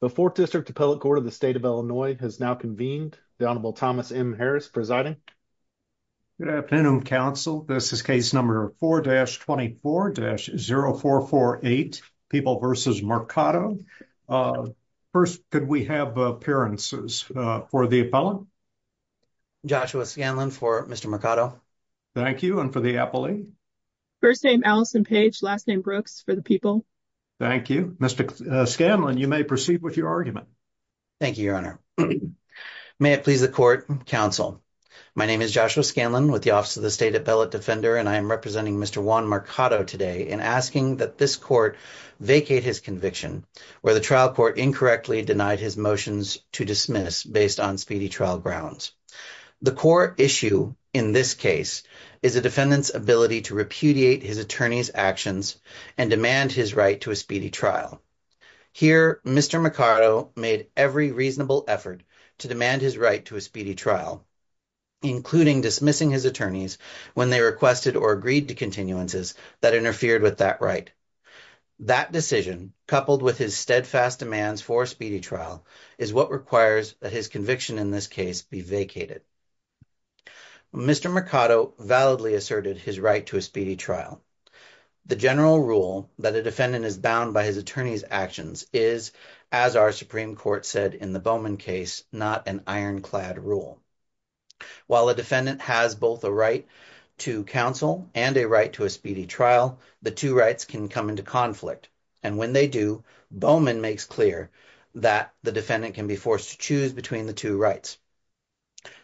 The 4th District Appellate Court of the State of Illinois has now convened. The Honorable Thomas M. Harris presiding. Good afternoon, counsel. This is case number 4-24-0448, People v. Mercado. First, could we have appearances for the appellant? Joshua Scanlon for Mr. Mercado. Thank you, and for the appellee? First name Allison Page, last name Brooks for the people. Thank you. Mr. Scanlon, you may proceed with your argument. Thank you, Your Honor. May it please the court, counsel. My name is Joshua Scanlon with the Office of the State Appellate Defender, and I am representing Mr. Juan Mercado today in asking that this court vacate his conviction, where the trial court incorrectly denied his motions to dismiss based on speedy trial grounds. The core issue in this case is a defendant's ability to repudiate his attorney's actions and demand his right to a speedy trial. Here, Mr. Mercado made every reasonable effort to demand his right to a speedy trial, including dismissing his attorneys when they requested or agreed to continuances that interfered with that right. That decision, coupled with his steadfast demands for a speedy trial, is what requires that his conviction in this case be vacated. Mr. Mercado validly asserted his right to a speedy trial. The general rule that a defendant is bound by his attorney's actions is, as our Supreme Court said in the Bowman case, not an ironclad rule. While a defendant has both a right to counsel and a right to a speedy trial, the two rights can come into conflict, and when they do, Bowman makes clear that the defendant can be forced to choose between the two rights.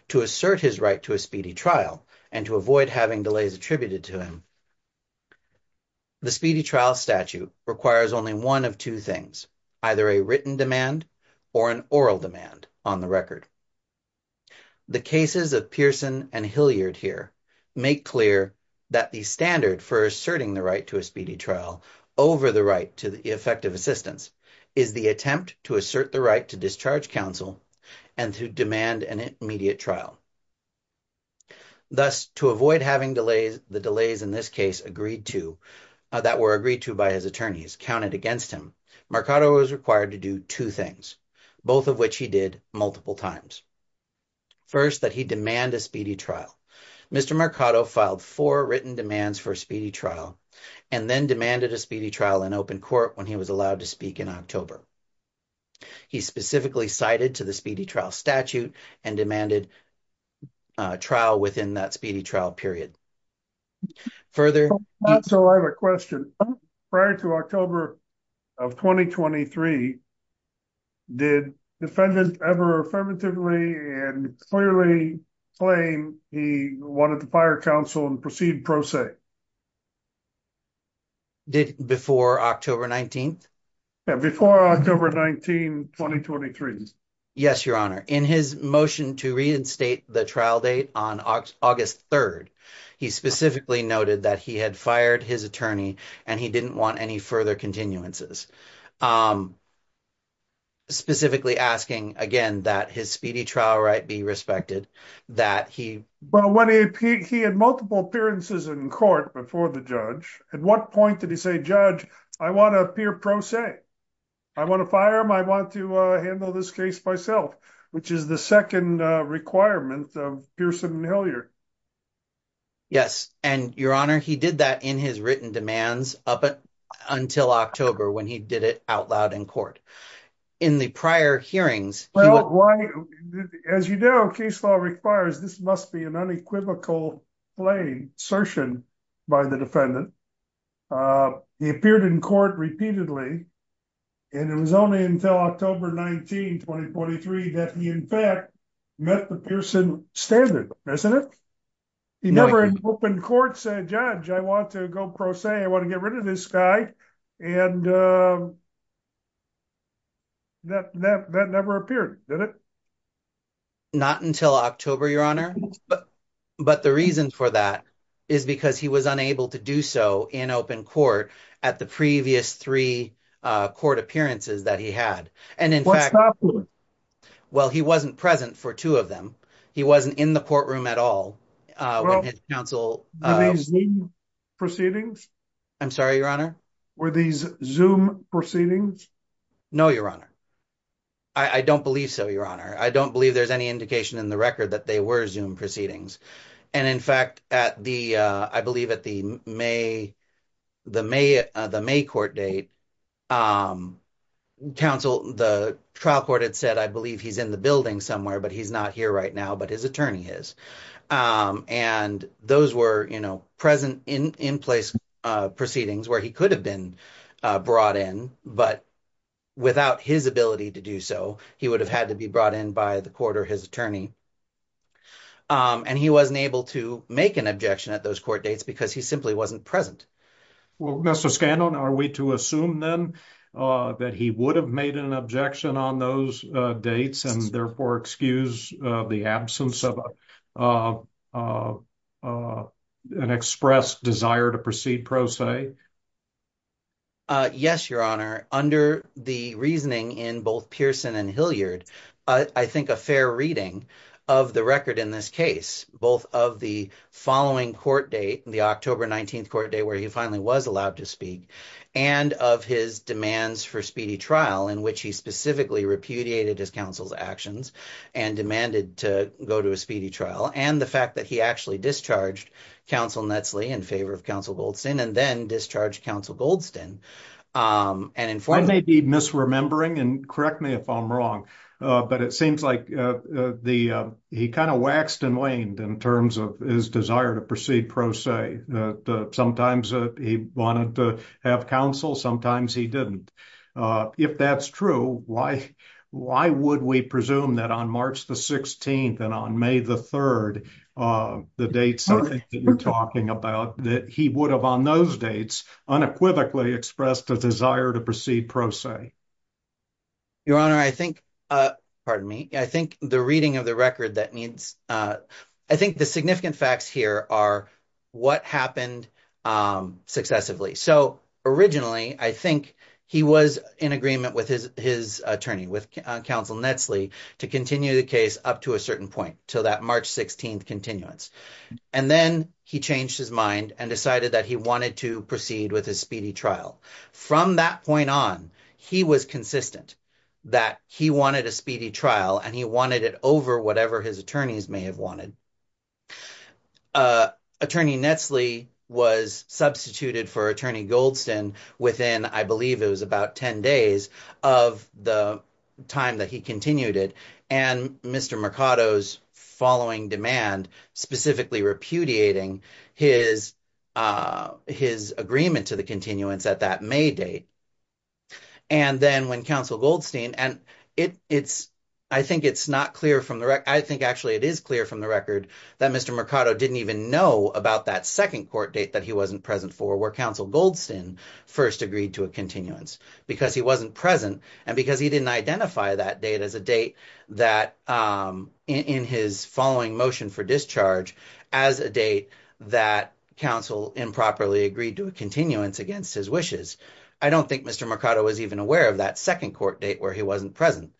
To assert his right to a speedy trial and to avoid having delays attributed to him, the speedy trial statute requires only one of two things, either a written demand or an oral demand on the record. The cases of Pearson and Hilliard here make clear that the standard for asserting the right to a speedy trial over the right to effective assistance is the attempt to assert the right to discharge counsel and to demand an immediate trial. Thus, to avoid having the delays in this case that were agreed to by his attorneys counted against him, Mercado was required to do two things, both of which he did multiple times. First, that he demand a speedy trial. Mr. Mercado filed four written demands for a speedy trial and then demanded a speedy trial in open court when he was allowed to speak in October. He specifically cited to the speedy trial statute and demanded a trial within that speedy trial period. So I have a question. Prior to October of 2023, did the defendant ever affirmatively and clearly claim he wanted to fire counsel and proceed pro se? Before October 19th? Before October 19th, 2023. Yes, Your Honor. In his motion to reinstate the trial date on August 3rd, he specifically noted that he had fired his attorney and he didn't want any further continuances. Specifically asking again that his speedy trial right be respected, that he... But when he had multiple appearances in court before the judge, at what point did he say, Judge, I want to appear pro se. I want to fire him. I want to handle this case myself, which is the second requirement of Pearson and Hilliard. Yes, and Your Honor, he did that in his written demands up until October when he did it out loud in court. In the prior hearings... As you know, case law requires this must be an unequivocal plain assertion by the defendant. He appeared in court repeatedly, and it was only until October 19, 2023, that he in fact met the Pearson standard, President. He never in open court said, Judge, I want to go pro se. I want to get rid of this guy. And that never appeared, did it? Not until October, Your Honor. But the reason for that is because he was unable to do so in open court at the previous three court appearances that he had. What stopped him? Well, he wasn't present for two of them. He wasn't in the courtroom at all. Were these Zoom proceedings? I'm sorry, Your Honor? Were these Zoom proceedings? No, Your Honor. I don't believe so, Your Honor. I don't believe there's any indication in the record that they were Zoom proceedings. And in fact, I believe at the May court date, the trial court had said, I believe he's in the building somewhere, but he's not here right now, but his attorney is. And those were, you know, present in place proceedings where he could have been brought in, but without his ability to do so, he would have had to be brought in by the court or his attorney. And he wasn't able to make an objection at those court dates because he simply wasn't present. Well, Mr. Scanlon, are we to assume then that he would have made an objection on those dates and therefore excuse the absence of an express desire to proceed pro se? Yes, Your Honor. Under the reasoning in both Pearson and Hilliard, I think a fair reading of the record in this case, both of the following court date, the October 19th court date where he finally was allowed to speak, and of his demands for speedy trial in which he specifically repudiated his counsel's actions and demanded to go to a speedy trial. And the fact that he actually discharged counsel Netsley in favor of counsel Goldstein and then discharged counsel Goldstein. I may be misremembering and correct me if I'm wrong, but it seems like he kind of waxed and waned in terms of his desire to proceed pro se. Sometimes he wanted to have counsel, sometimes he didn't. If that's true, why would we presume that on March the 16th and on May the 3rd, the dates that you're talking about, that he would have on those dates unequivocally expressed a desire to proceed pro se? Your Honor, I think, pardon me, I think the reading of the record that needs, I think the significant facts here are what happened successively. So, originally, I think he was in agreement with his attorney, with counsel Netsley to continue the case up to a certain point to that March 16th continuance. And then he changed his mind and decided that he wanted to proceed with a speedy trial. From that point on, he was consistent that he wanted a speedy trial and he wanted it over whatever his attorneys may have wanted. Attorney Netsley was substituted for Attorney Goldstein within, I believe it was about 10 days of the time that he continued it. And Mr. Mercado's following demand, specifically repudiating his agreement to the continuance at that May date. And then when counsel Goldstein, and I think it's not clear from the record, I think actually it is clear from the record that Mr. Mercado didn't even know about that second court date that he wasn't present for where counsel Goldstein first agreed to a continuance because he wasn't present and because he didn't identify that date as a date that in his following motion for discharge as a date that counsel improperly agreed to a continuance against his wishes. So I don't think Mr. Mercado was even aware of that second court date where he wasn't present.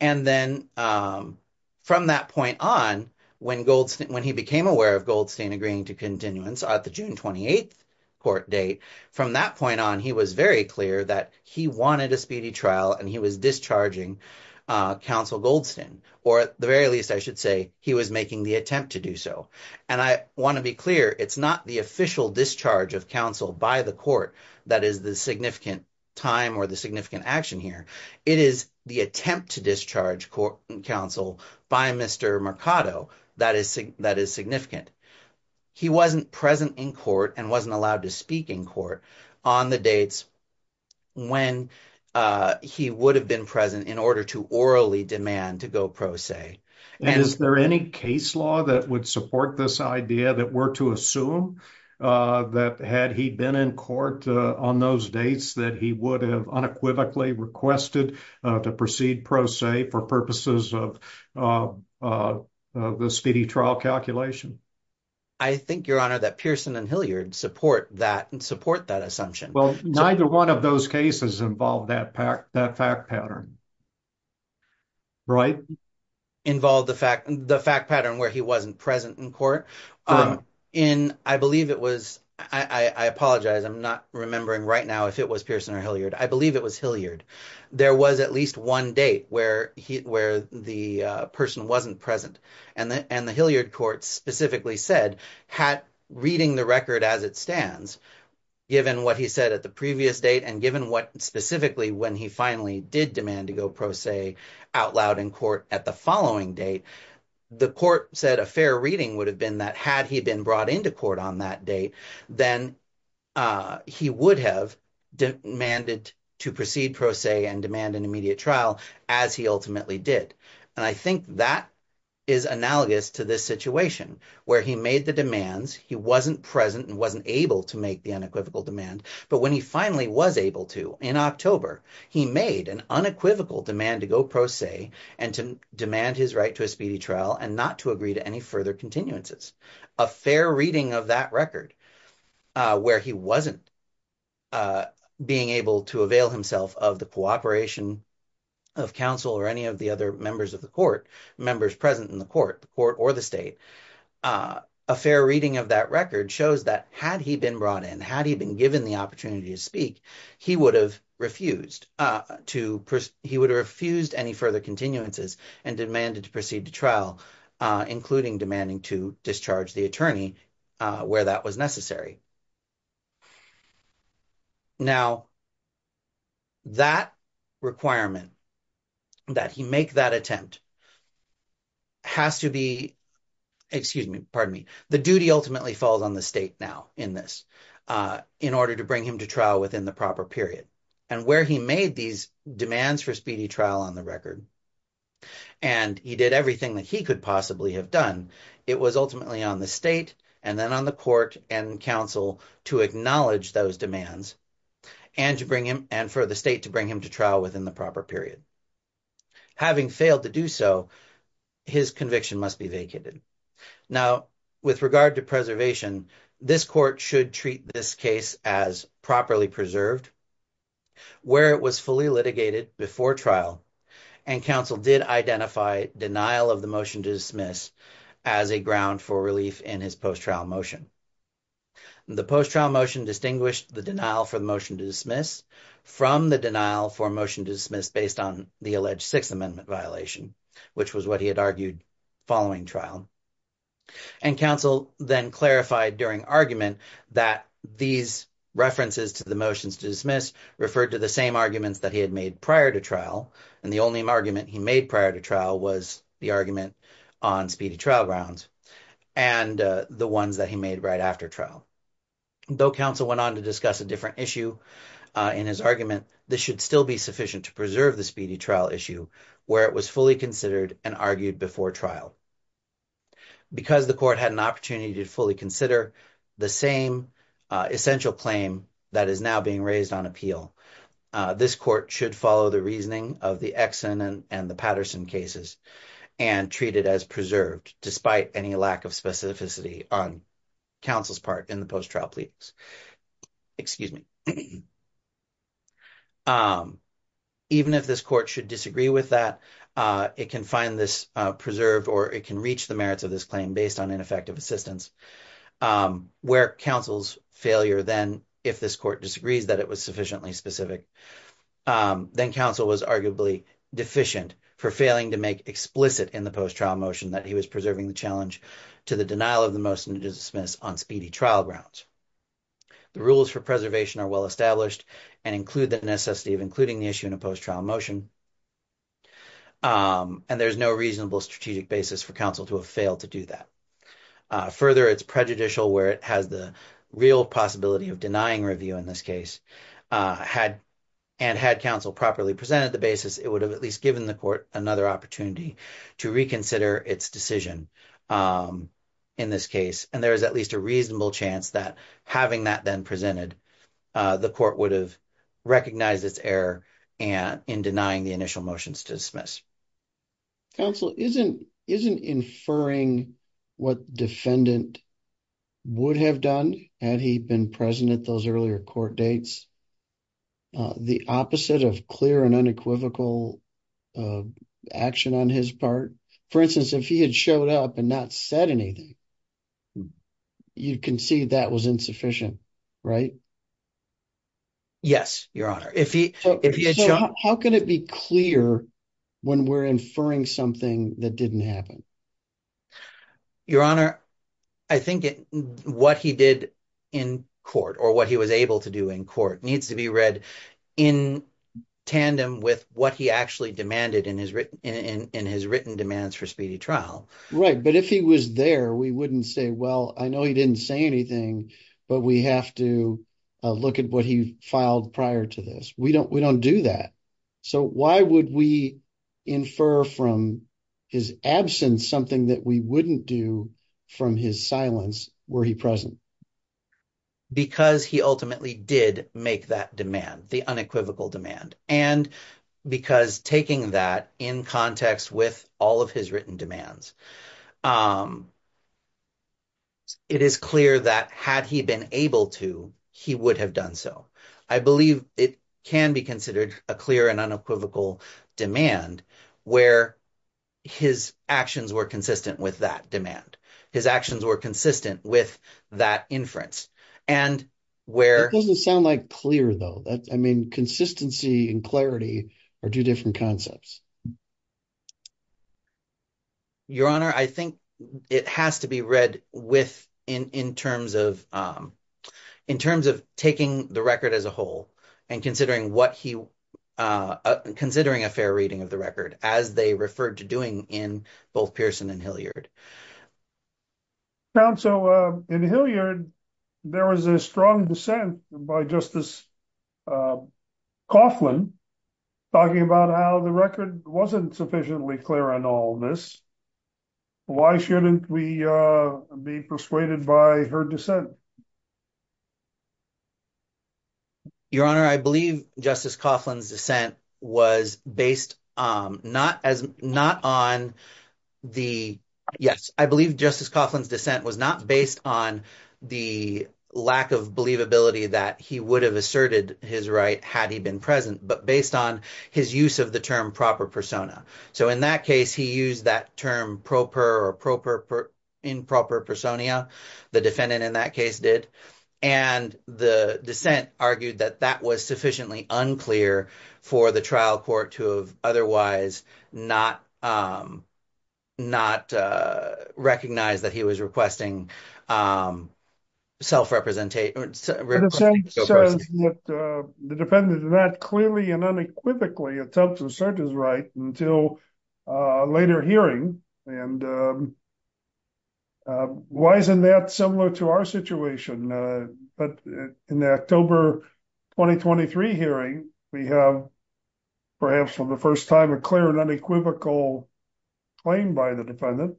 And then from that point on, when he became aware of Goldstein agreeing to continuance at the June 28th court date, from that point on, he was very clear that he wanted a speedy trial and he was discharging counsel Goldstein. Or at the very least, I should say, he was making the attempt to do so. And I want to be clear, it's not the official discharge of counsel by the court that is the significant time or the significant action here. It is the attempt to discharge counsel by Mr. Mercado that is significant. He wasn't present in court and wasn't allowed to speak in court on the dates when he would have been present in order to orally demand to go pro se. Is there any case law that would support this idea that were to assume that had he been in court on those dates that he would have unequivocally requested to proceed pro se for purposes of the speedy trial calculation? I think, Your Honor, that Pearson and Hilliard support that and support that assumption. Well, neither one of those cases involved that fact pattern. Right? Involved the fact pattern where he wasn't present in court. I believe it was. I apologize. I'm not remembering right now if it was Pearson or Hilliard. I believe it was Hilliard. There was at least one date where the person wasn't present and the Hilliard court specifically said, reading the record as it stands, given what he said at the previous date and given what specifically when he finally did demand to go pro se out loud in court at the following date, the court said a fair reading would have been that had he been brought into court on that date, then he would have demanded to proceed pro se and demand an immediate trial as he ultimately did. And I think that is analogous to this situation where he made the demands, he wasn't present and wasn't able to make the unequivocal demand, but when he finally was able to in October, he made an unequivocal demand to go pro se and to demand his right to a speedy trial and not to agree to any further continuances. A fair reading of that record where he wasn't being able to avail himself of the cooperation of counsel or any of the other members of the court, members present in the court or the state, a fair reading of that record shows that had he been brought in, had he been given the opportunity to speak, he would have refused any further continuances and demanded to proceed to trial, including demanding to discharge the attorney where that was necessary. Now, that requirement that he make that attempt has to be, excuse me, pardon me, the duty ultimately falls on the state now in this, in order to bring him to trial within the proper period and where he made these demands for speedy trial on the record, and he did everything that he could possibly have done. It was ultimately on the state and then on the court and counsel to acknowledge those demands and to bring him and for the state to bring him to trial within the proper period. Having failed to do so, his conviction must be vacated. Now, with regard to preservation, this court should treat this case as properly preserved where it was fully litigated before trial and counsel did identify denial of the motion to dismiss as a ground for relief in his post-trial motion. The post-trial motion distinguished the denial for the motion to dismiss from the denial for motion to dismiss based on the alleged Sixth Amendment violation, which was what he had argued following trial. And counsel then clarified during argument that these references to the motions to dismiss referred to the same arguments that he had made prior to trial, and the only argument he made prior to trial was the argument on speedy trial grounds and the ones that he made right after trial. Though counsel went on to discuss a different issue in his argument, this should still be sufficient to preserve the speedy trial issue where it was fully considered and argued before trial. Because the court had an opportunity to fully consider the same essential claim that is now being raised on appeal, this court should follow the reasoning of the Exon and the Patterson cases and treat it as preserved despite any lack of specificity on counsel's part in the post-trial plea. Excuse me. Even if this court should disagree with that, it can find this preserved or it can reach the merits of this claim based on ineffective assistance where counsel's failure then, if this court disagrees that it was sufficiently specific, then counsel was arguably deficient for failing to make explicit in the post-trial motion that he was preserving the challenge to the denial of the motion to dismiss on speedy trial grounds. The rules for preservation are well established and include the necessity of including the issue in a post-trial motion, and there's no reasonable strategic basis for counsel to have failed to do that. Further, it's prejudicial where it has the real possibility of denying review in this case, and had counsel properly presented the basis, it would have at least given the court another opportunity to reconsider its decision in this case, and there is at least a reasonable chance that having that then presented, the court would have recognized its error in denying the initial motions to dismiss. Counsel, isn't inferring what defendant would have done had he been present at those earlier court dates the opposite of clear and unequivocal action on his part? For instance, if he had showed up and not said anything, you can see that was insufficient, right? Yes, Your Honor. How can it be clear when we're inferring something that didn't happen? Your Honor, I think what he did in court or what he was able to do in court needs to be read in tandem with what he actually demanded in his written demands for speedy trial. Right, but if he was there, we wouldn't say, well, I know he didn't say anything, but we have to look at what he filed prior to this. We don't do that. So why would we infer from his absence something that we wouldn't do from his silence were he present? Because he ultimately did make that demand, the unequivocal demand, and because taking that in context with all of his written demands, it is clear that had he been able to, he would have done so. I believe it can be considered a clear and unequivocal demand where his actions were consistent with that demand. His actions were consistent with that inference. That doesn't sound like clear, though. I mean, consistency and clarity are two different concepts. Your Honor, I think it has to be read in terms of taking the record as a whole and considering a fair reading of the record as they referred to doing in both Pearson and Hilliard. So in Hilliard, there was a strong dissent by Justice Coughlin talking about how the record wasn't sufficiently clear on all this. Why shouldn't we be persuaded by her dissent? Your Honor, I believe Justice Coughlin's dissent was not based on the lack of believability that he would have asserted his right had he been present, but based on his use of the term proper persona. So in that case, he used that term proper or improper persona. The defendant in that case did. And the dissent argued that that was sufficiently unclear for the trial court to have otherwise not recognized that he was requesting self-representation. The defendant in that clearly and unequivocally attempted to assert his right until later hearing. And why isn't that similar to our situation? But in the October 2023 hearing, we have perhaps for the first time a clear and unequivocal claim by the defendant.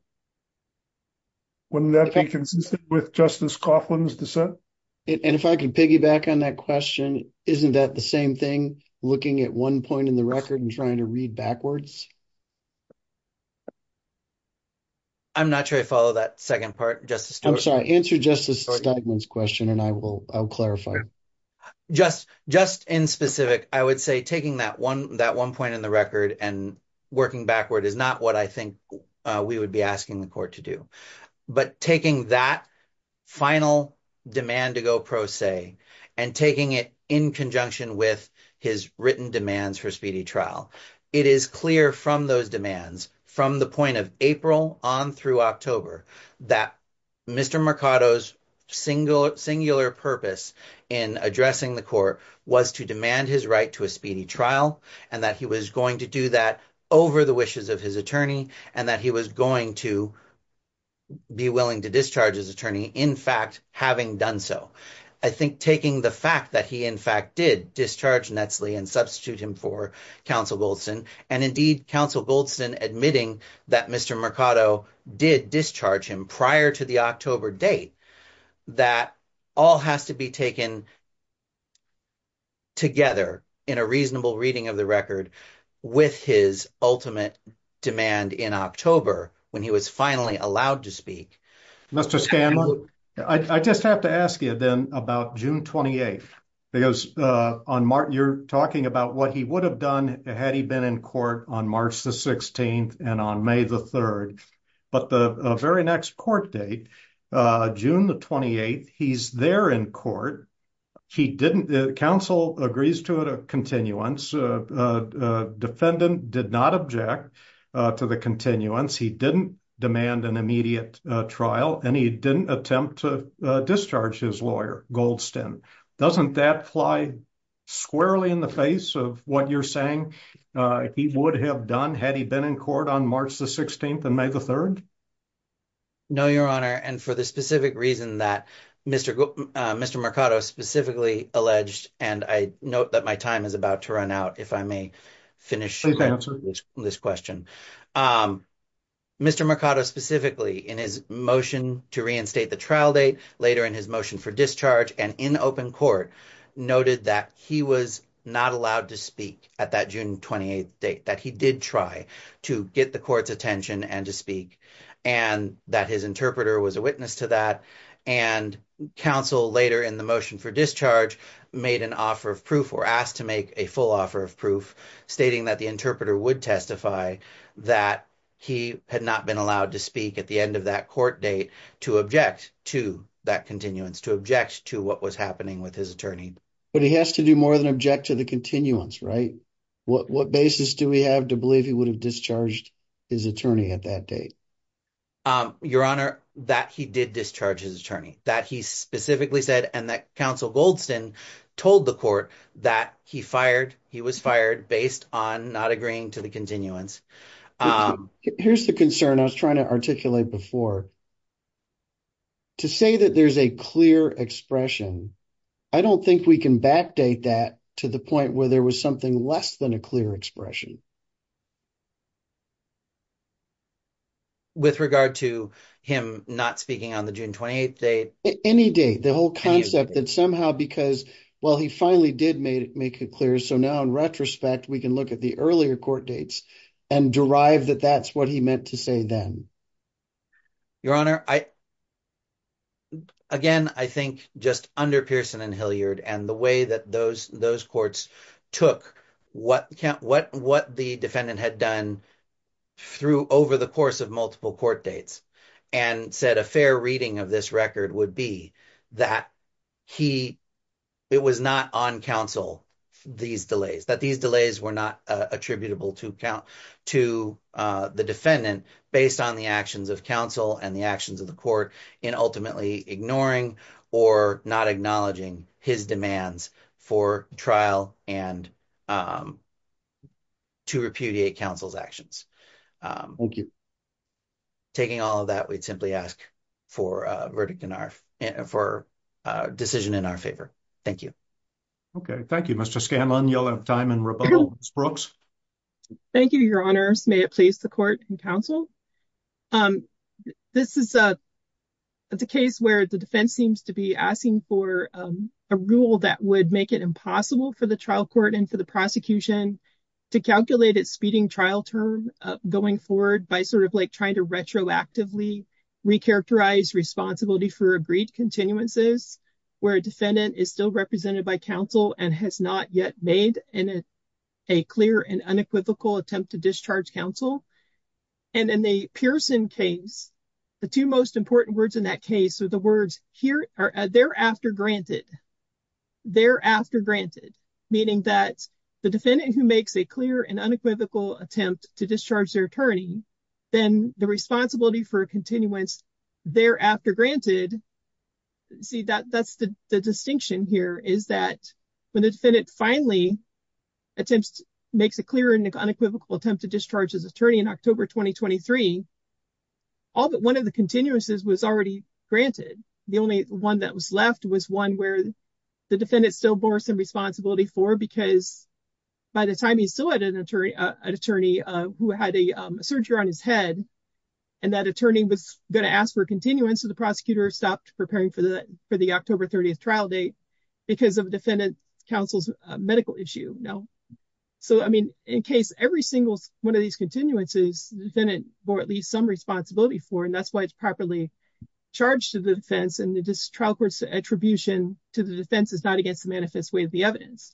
Wouldn't that be consistent with Justice Coughlin's dissent? And if I can piggyback on that question, isn't that the same thing, looking at one point in the record and trying to read backwards? I'm not sure I follow that second part, Justice Stewart. I'm sorry, answer Justice Steigman's question and I will clarify. Just just in specific, I would say taking that one that one point in the record and working backward is not what I think we would be asking the court to do. But taking that final demand to go pro se and taking it in conjunction with his written demands for speedy trial, it is clear from those demands from the point of April on through October that Mr. Mercado's single singular purpose in addressing the court was to demand his right to a speedy trial and that he was going to do that over the wishes of his attorney and that he was going to be willing to discharge his attorney, in fact, having done so. I think taking the fact that he, in fact, did discharge Nestle and substitute him for counsel Wilson and indeed counsel Goldston, admitting that Mr. Mercado did discharge him prior to the October date, that all has to be taken together in a reasonable reading of the record with his ultimate demand in October when he was finally allowed to speak. Mr. Scanlon, I just have to ask you then about June 28, because on Martin you're talking about what he would have done had he been in court on March the 16th and on May the 3rd, but the very next court date, June the 28th, he's there in court. He didn't counsel agrees to it a continuance defendant did not object to the continuance he didn't demand an immediate trial and he didn't attempt to discharge his lawyer Goldston doesn't that fly squarely in the face of what you're saying he would have done had he been in court on March the 16th and May the 3rd. No, your honor, and for the specific reason that Mr. Mr. Mercado specifically alleged, and I note that my time is about to run out. If I may finish this question. Mr. Mercado specifically in his motion to reinstate the trial date later in his motion for discharge and in open court noted that he was not allowed to speak at that June 28 date that he did try to get the court's attention and to speak and that his interpreter was a witness to that and counsel later in the motion for discharge made an offer of proof or asked to make a full offer of proof, stating that the interpreter would testify. That he had not been allowed to speak at the end of that court date to object to that continuance to object to what was happening with his attorney, but he has to do more than object to the continuance. Right? What basis do we have to believe he would have discharged his attorney at that date? Your honor that he did discharge his attorney that he specifically said, and that counsel Goldstein told the court that he fired. He was fired based on not agreeing to the continuance. Here's the concern I was trying to articulate before. To say that there's a clear expression. I don't think we can backdate that to the point where there was something less than a clear expression. With regard to him, not speaking on the June 28 date any day, the whole concept that somehow, because, well, he finally did make it clear. So now, in retrospect, we can look at the earlier court dates and derive that that's what he meant to say then. Your honor, I. Again, I think just under Pearson and Hilliard, and the way that those those courts took what what what the defendant had done. Through over the course of multiple court dates and said a fair reading of this record would be that he. It was not on counsel. These delays that these delays were not attributable to count to the defendant, based on the actions of counsel and the actions of the court in ultimately ignoring or not acknowledging his demands for trial and. To repudiate counsel's actions. Thank you. Taking all of that, we'd simply ask for a verdict in our for decision in our favor. Thank you. Okay, thank you, Mr Scanlon. You'll have time and rebuttal Brooks. Thank you. Your honors. May it please the court and counsel. This is a. It's a case where the defense seems to be asking for a rule that would make it impossible for the trial court and for the prosecution to calculate it speeding trial term going forward by sort of like, trying to retroactively. Recharacterize responsibility for agreed continuances, where a defendant is still represented by counsel and has not yet made in a clear and unequivocal attempt to discharge counsel. And in the Pearson case, the two most important words in that case, or the words here are thereafter granted thereafter granted, meaning that the defendant who makes a clear and unequivocal attempt to discharge their attorney, then the responsibility for a continuance. Thereafter granted, see that that's the distinction here is that when the defendant finally attempts makes a clear and unequivocal attempt to discharge his attorney in October 2023. All but one of the continuances was already granted. The only one that was left was one where the defendant still bore some responsibility for because. By the time he still had an attorney attorney who had a surgery on his head. And that attorney was going to ask for a continuance to the prosecutor stopped preparing for the for the October 30th trial date because of defendant counsel's medical issue. No. So, I mean, in case every single one of these continuances, then it, or at least some responsibility for and that's why it's properly charged to the defense and the distribution to the defense is not against the manifest way of the evidence.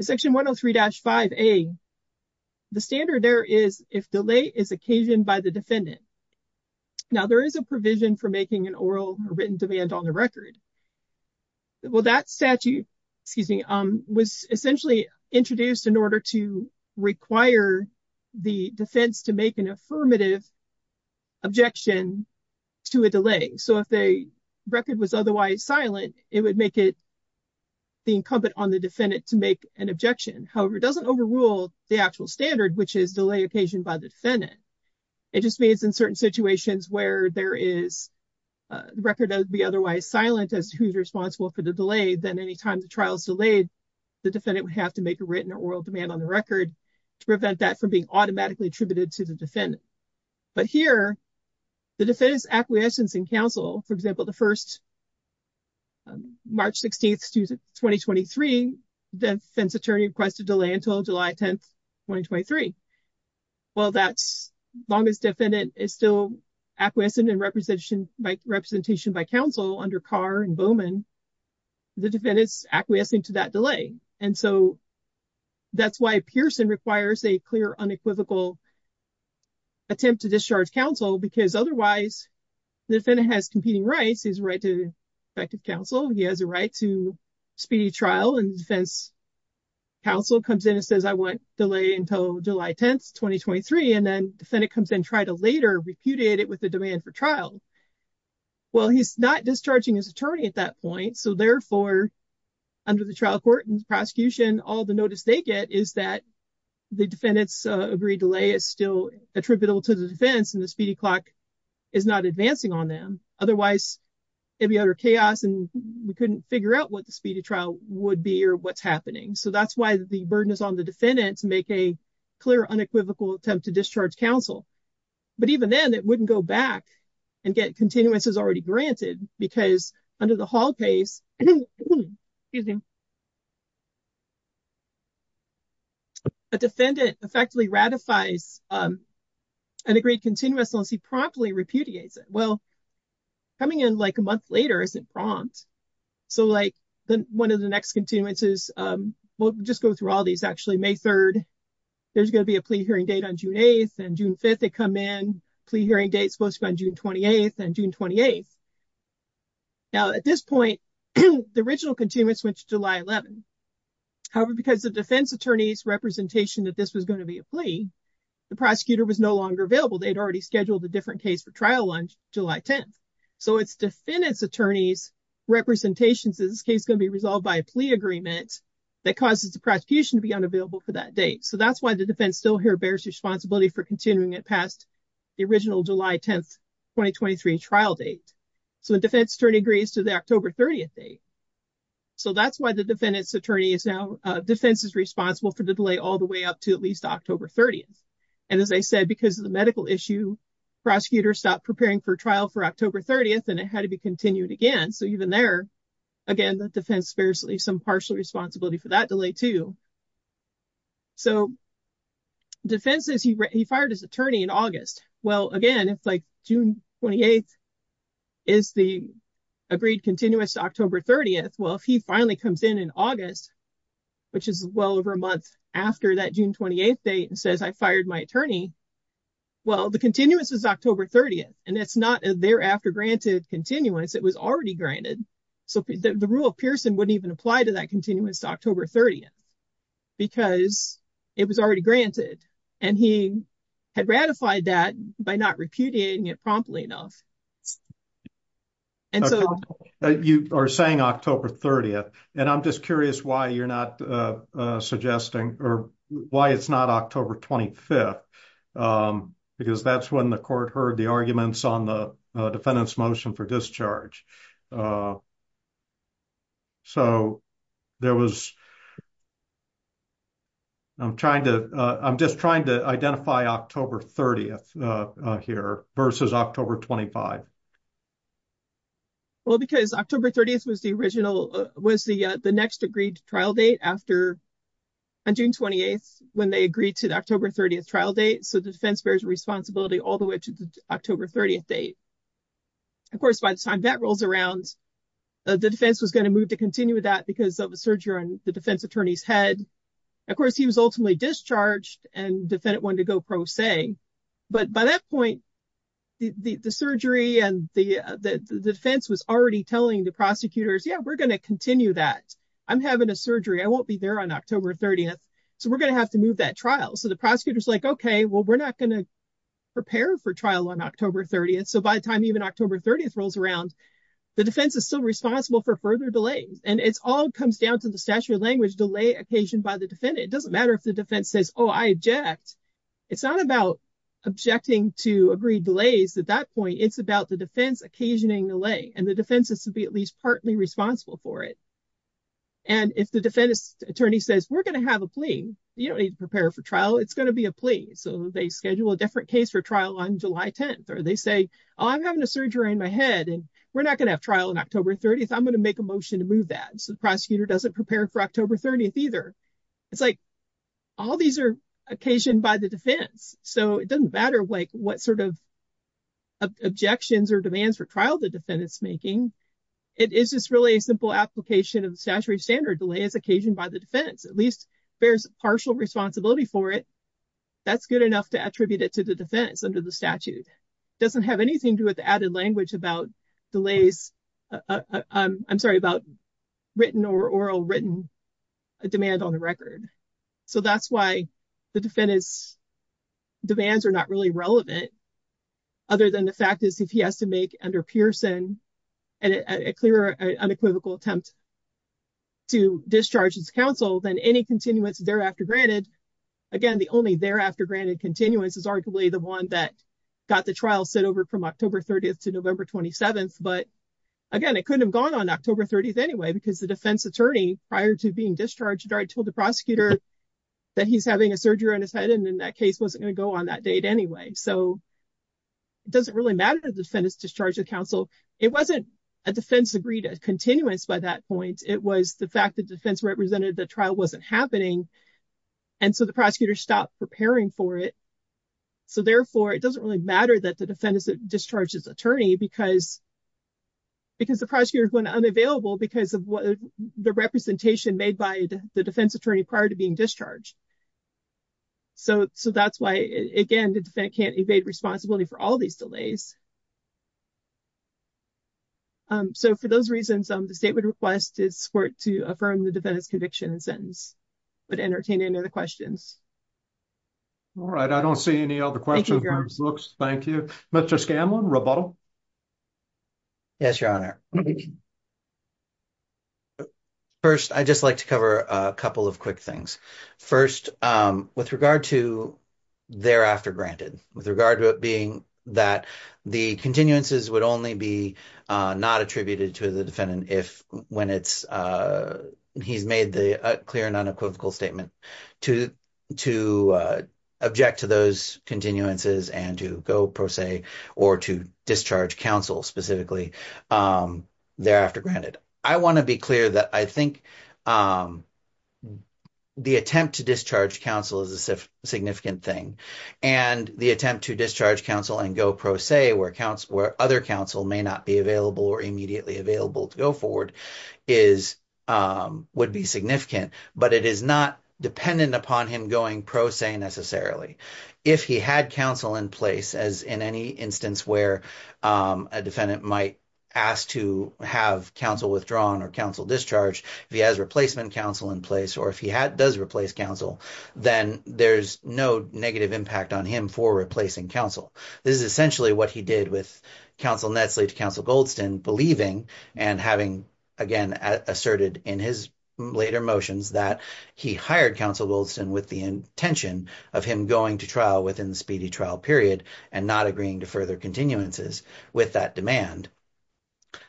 Section 103 dash 5 a. The standard there is if delay is occasioned by the defendant. Now, there is a provision for making an oral written demand on the record. Well, that statute, excuse me, was essentially introduced in order to require the defense to make an affirmative objection to a delay. So, if they record was otherwise silent, it would make it the incumbent on the defendant to make an objection. However, it doesn't overrule the actual standard, which is delay occasion by the defendant. It just means in certain situations where there is. The record would be otherwise silent as who's responsible for the delay than anytime the trials delayed. The defendant would have to make a written or oral demand on the record to prevent that from being automatically attributed to the defendant. But here. The defense acquiescence and counsel, for example, the 1st. March 16th, 2023 defense attorney requested delay until July 10th, 2023. Well, that's longest defendant is still acquiescent and representation by representation by counsel under car and Bowman. The defendants acquiescing to that delay and so. That's why Pearson requires a clear unequivocal. Attempt to discharge counsel because otherwise the defendant has competing rights is right to effective counsel. He has a right to speedy trial and defense. Counsel comes in and says, I want delay until July 10th, 2023 and then defendant comes in, try to later repudiated with the demand for trial. Well, he's not discharging his attorney at that point. So, therefore. Under the trial court and prosecution, all the notice they get is that. The defendants agree delay is still attributable to the defense and the speedy clock. Is not advancing on them. Otherwise. It'd be utter chaos and we couldn't figure out what the speedy trial would be or what's happening. So that's why the burden is on the defendants make a clear unequivocal attempt to discharge counsel. But even then, it wouldn't go back and get continuous is already granted because under the hall case. A defendant effectively ratifies. And agreed continuous, unless he promptly repudiates it. Well. Coming in, like, a month later, isn't prompt. So, like, the 1 of the next continuous is we'll just go through all these actually May 3rd. There's going to be a plea hearing date on June 8th and June 5th. They come in plea hearing date supposed to be on June 28th and June 28th. Now, at this point, the original continuous, which July 11. However, because the defense attorneys representation that this was going to be a plea. The prosecutor was no longer available. They'd already scheduled a different case for trial on July 10th. So, it's defendants attorneys representations is case going to be resolved by a plea agreement. That causes the prosecution to be unavailable for that date. So that's why the defense still here bears responsibility for continuing it past. The original July 10th, 2023 trial date. So, the defense attorney agrees to the October 30th date. So, that's why the defendants attorney is now defense is responsible for the delay all the way up to at least October 30th. And as I said, because of the medical issue, prosecutors stop preparing for trial for October 30th, and it had to be continued again. So, even there. Again, the defense spares some partial responsibility for that delay too. So, defenses he fired his attorney in August. Well, again, it's like June 28th. Is the agreed continuous October 30th? Well, if he finally comes in in August. Which is well over a month after that June 28th date and says I fired my attorney. Well, the continuous is October 30th and it's not a thereafter granted continuance. It was already granted. So, the rule of Pearson wouldn't even apply to that continuous October 30th. Because it was already granted and he had ratified that by not repudiating it promptly enough. And so you are saying October 30th and I'm just curious why you're not suggesting or why it's not October 25th. Because that's when the court heard the arguments on the defendants motion for discharge. So, there was. I'm trying to I'm just trying to identify October 30th here versus October 25. Well, because October 30th was the original was the next agreed trial date after. On June 28th when they agreed to the October 30th trial date so defense bears responsibility all the way to the October 30th date. Of course, by the time that rolls around, the defense was going to move to continue with that because of a surgery on the defense attorney's head. Of course, he was ultimately discharged and defendant wanted to go pro se. But by that point, the surgery and the defense was already telling the prosecutors. Yeah, we're going to continue that. I'm having a surgery. I won't be there on October 30th. So, we're going to have to move that trial. So, the prosecutor's like, okay, well, we're not going to prepare for trial on October 30th. So, by the time even October 30th rolls around, the defense is still responsible for further delays. And it's all comes down to the statutory language delay occasioned by the defendant. It doesn't matter if the defense says, oh, I object. It's not about objecting to agree delays at that point. It's about the defense occasioning delay and the defense is to be at least partly responsible for it. And if the defense attorney says, we're going to have a plea, you don't need to prepare for trial. It's going to be a plea. So, they schedule a different case for trial on July 10th. Or they say, oh, I'm having a surgery in my head and we're not going to have trial on October 30th. I'm going to make a motion to move that. So, the prosecutor doesn't prepare for October 30th either. It's like all these are occasioned by the defense. So, it doesn't matter what sort of objections or demands for trial the defendant's making. It is just really a simple application of the statutory standard delay as occasioned by the defense. At least bears partial responsibility for it. That's good enough to attribute it to the defense under the statute. It doesn't have anything to do with the added language about delays. I'm sorry, about written or oral written demand on the record. So, that's why the defendant's demands are not really relevant. Other than the fact is if he has to make under Pearson a clear unequivocal attempt to discharge his counsel, then any continuance thereafter granted, again, the only thereafter granted continuance is arguably the one that got the trial set over from October 30th to November 27th. But, again, it couldn't have gone on October 30th anyway because the defense attorney, prior to being discharged, already told the prosecutor that he's having a surgery on his head and that case wasn't going to go on that date anyway. So, it doesn't really matter the defendant's discharge of counsel. It wasn't a defense agreed a continuance by that point. It was the fact that defense represented the trial wasn't happening. And so, the prosecutor stopped preparing for it. So, therefore, it doesn't really matter that the defendant's discharged his attorney because the prosecutor went unavailable because of the representation made by the defense attorney prior to being discharged. So, that's why, again, the defendant can't evade responsibility for all these delays. So, for those reasons, the state would request his court to affirm the defendant's conviction and sentence. But entertain any other questions. All right. I don't see any other questions. Thank you. Mr. Scanlon, rebuttal. Yes, Your Honor. First, I'd just like to cover a couple of quick things. First, with regard to thereafter granted, with regard to it being that the continuances would only be not attributed to the defendant when he's made the clear and unequivocal statement to object to those continuances and to go, per se, or to discharge counsel specifically thereafter granted. I want to be clear that I think the attempt to discharge counsel is a significant thing. And the attempt to discharge counsel and go pro se, where other counsel may not be available or immediately available to go forward, would be significant. But it is not dependent upon him going pro se, necessarily. If he had counsel in place, as in any instance where a defendant might ask to have counsel withdrawn or counsel discharged, if he has replacement counsel in place, or if he does replace counsel, then there's no negative impact on him for replacing counsel. This is essentially what he did with counsel Netzley to counsel Goldston, believing and having, again, asserted in his later motions that he hired counsel Goldston with the intention of him going to trial within the speedy trial period and not agreeing to further continuances with that demand.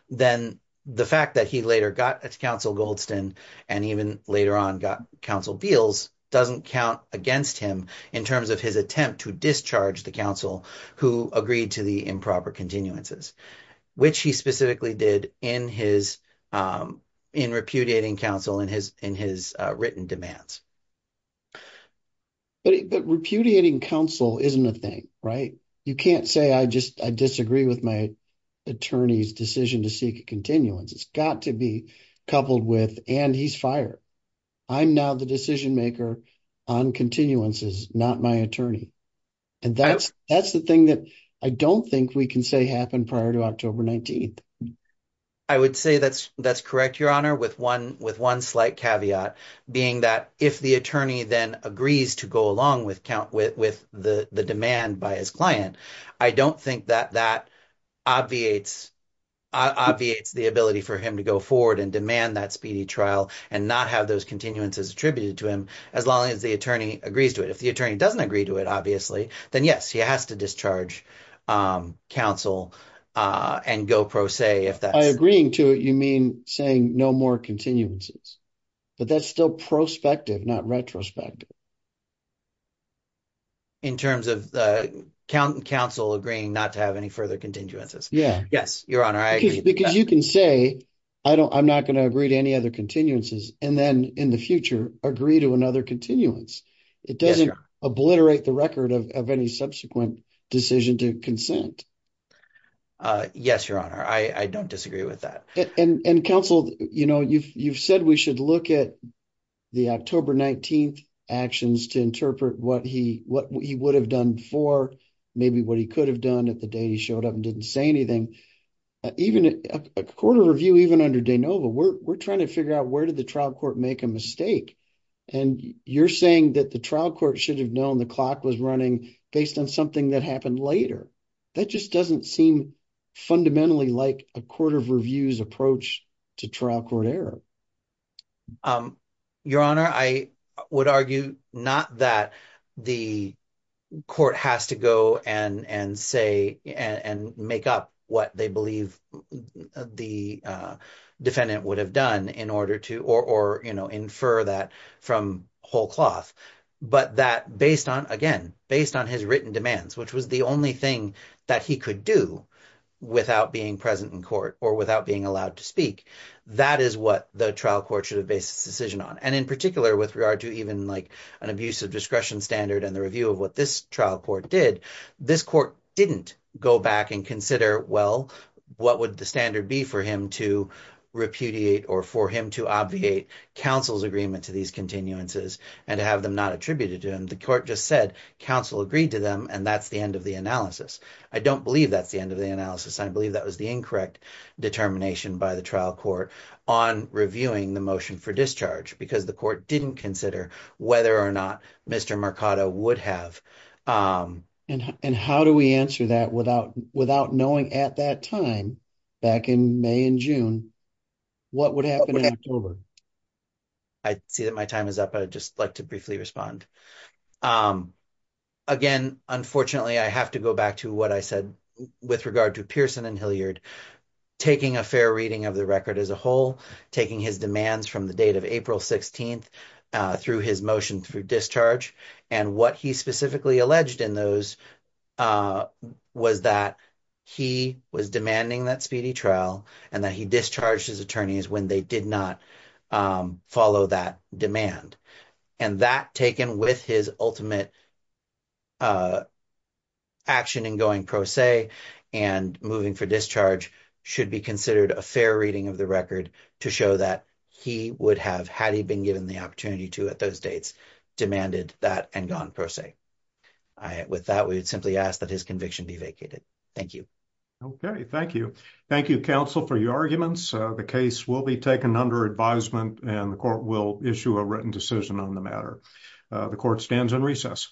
Then the fact that he later got counsel Goldston and even later on got counsel Beals doesn't count against him in terms of his attempt to discharge the counsel who agreed to the improper continuances, which he specifically did in repudiating counsel in his written demands. But repudiating counsel isn't a thing, right? You can't say I disagree with my attorney's decision to seek a continuance. It's got to be coupled with, and he's fired. I'm now the decision maker on continuances, not my attorney. And that's the thing that I don't think we can say happened prior to October 19th. I would say that's correct, Your Honor, with one slight caveat, being that if the attorney then agrees to go along with the demand by his client, I don't think that that obviates the ability for him to go forward and demand that speedy trial and not have those continuances attributed to him as long as the attorney agrees to it. If the attorney doesn't agree to it, obviously, then, yes, he has to discharge counsel and go pro se. By agreeing to it, you mean saying no more continuances, but that's still prospective, not retrospective. In terms of counsel agreeing not to have any further continuances. Yes, Your Honor, I agree. Because you can say I'm not going to agree to any other continuances and then in the future agree to another continuance. You can't obliterate the record of any subsequent decision to consent. Yes, Your Honor, I don't disagree with that. And counsel, you've said we should look at the October 19th actions to interpret what he would have done for, maybe what he could have done at the day he showed up and didn't say anything. Even a court of review, even under de novo, we're trying to figure out where did the trial court make a mistake? And you're saying that the trial court should have known the clock was running based on something that happened later. That just doesn't seem fundamentally like a court of reviews approach to trial court error. Your Honor, I would argue not that the court has to go and say and make up what they believe the defendant would have done in order to, or infer that from whole cloth. But that based on, again, based on his written demands, which was the only thing that he could do without being present in court or without being allowed to speak. That is what the trial court should have based its decision on. And in particular, with regard to even like an abusive discretion standard and the review of what this trial court did, this court didn't go back and consider, well, what would the standard be for him to repudiate or for him to obviate counsel's agreement to these continuances and to have them not attributed to him. The court just said counsel agreed to them, and that's the end of the analysis. I don't believe that's the end of the analysis. I believe that was the incorrect determination by the trial court on reviewing the motion for discharge because the court didn't consider whether or not Mr. Mercado would have. And how do we answer that without knowing at that time, back in May and June, what would happen in October? I see that my time is up. I'd just like to briefly respond. Again, unfortunately, I have to go back to what I said with regard to Pearson and Hilliard taking a fair reading of the record as a whole, taking his demands from the date of April 16th through his motion for discharge. And what he specifically alleged in those was that he was demanding that speedy trial and that he discharged his attorneys when they did not follow that demand. And that, taken with his ultimate action in going pro se and moving for discharge, should be considered a fair reading of the record to show that he would have, had he been given the opportunity to at those dates, demanded that and gone pro se. With that, we would simply ask that his conviction be vacated. Thank you. Okay. Thank you. Thank you, counsel, for your arguments. The case will be taken under advisement and the court will issue a written decision on the matter. The court stands in recess.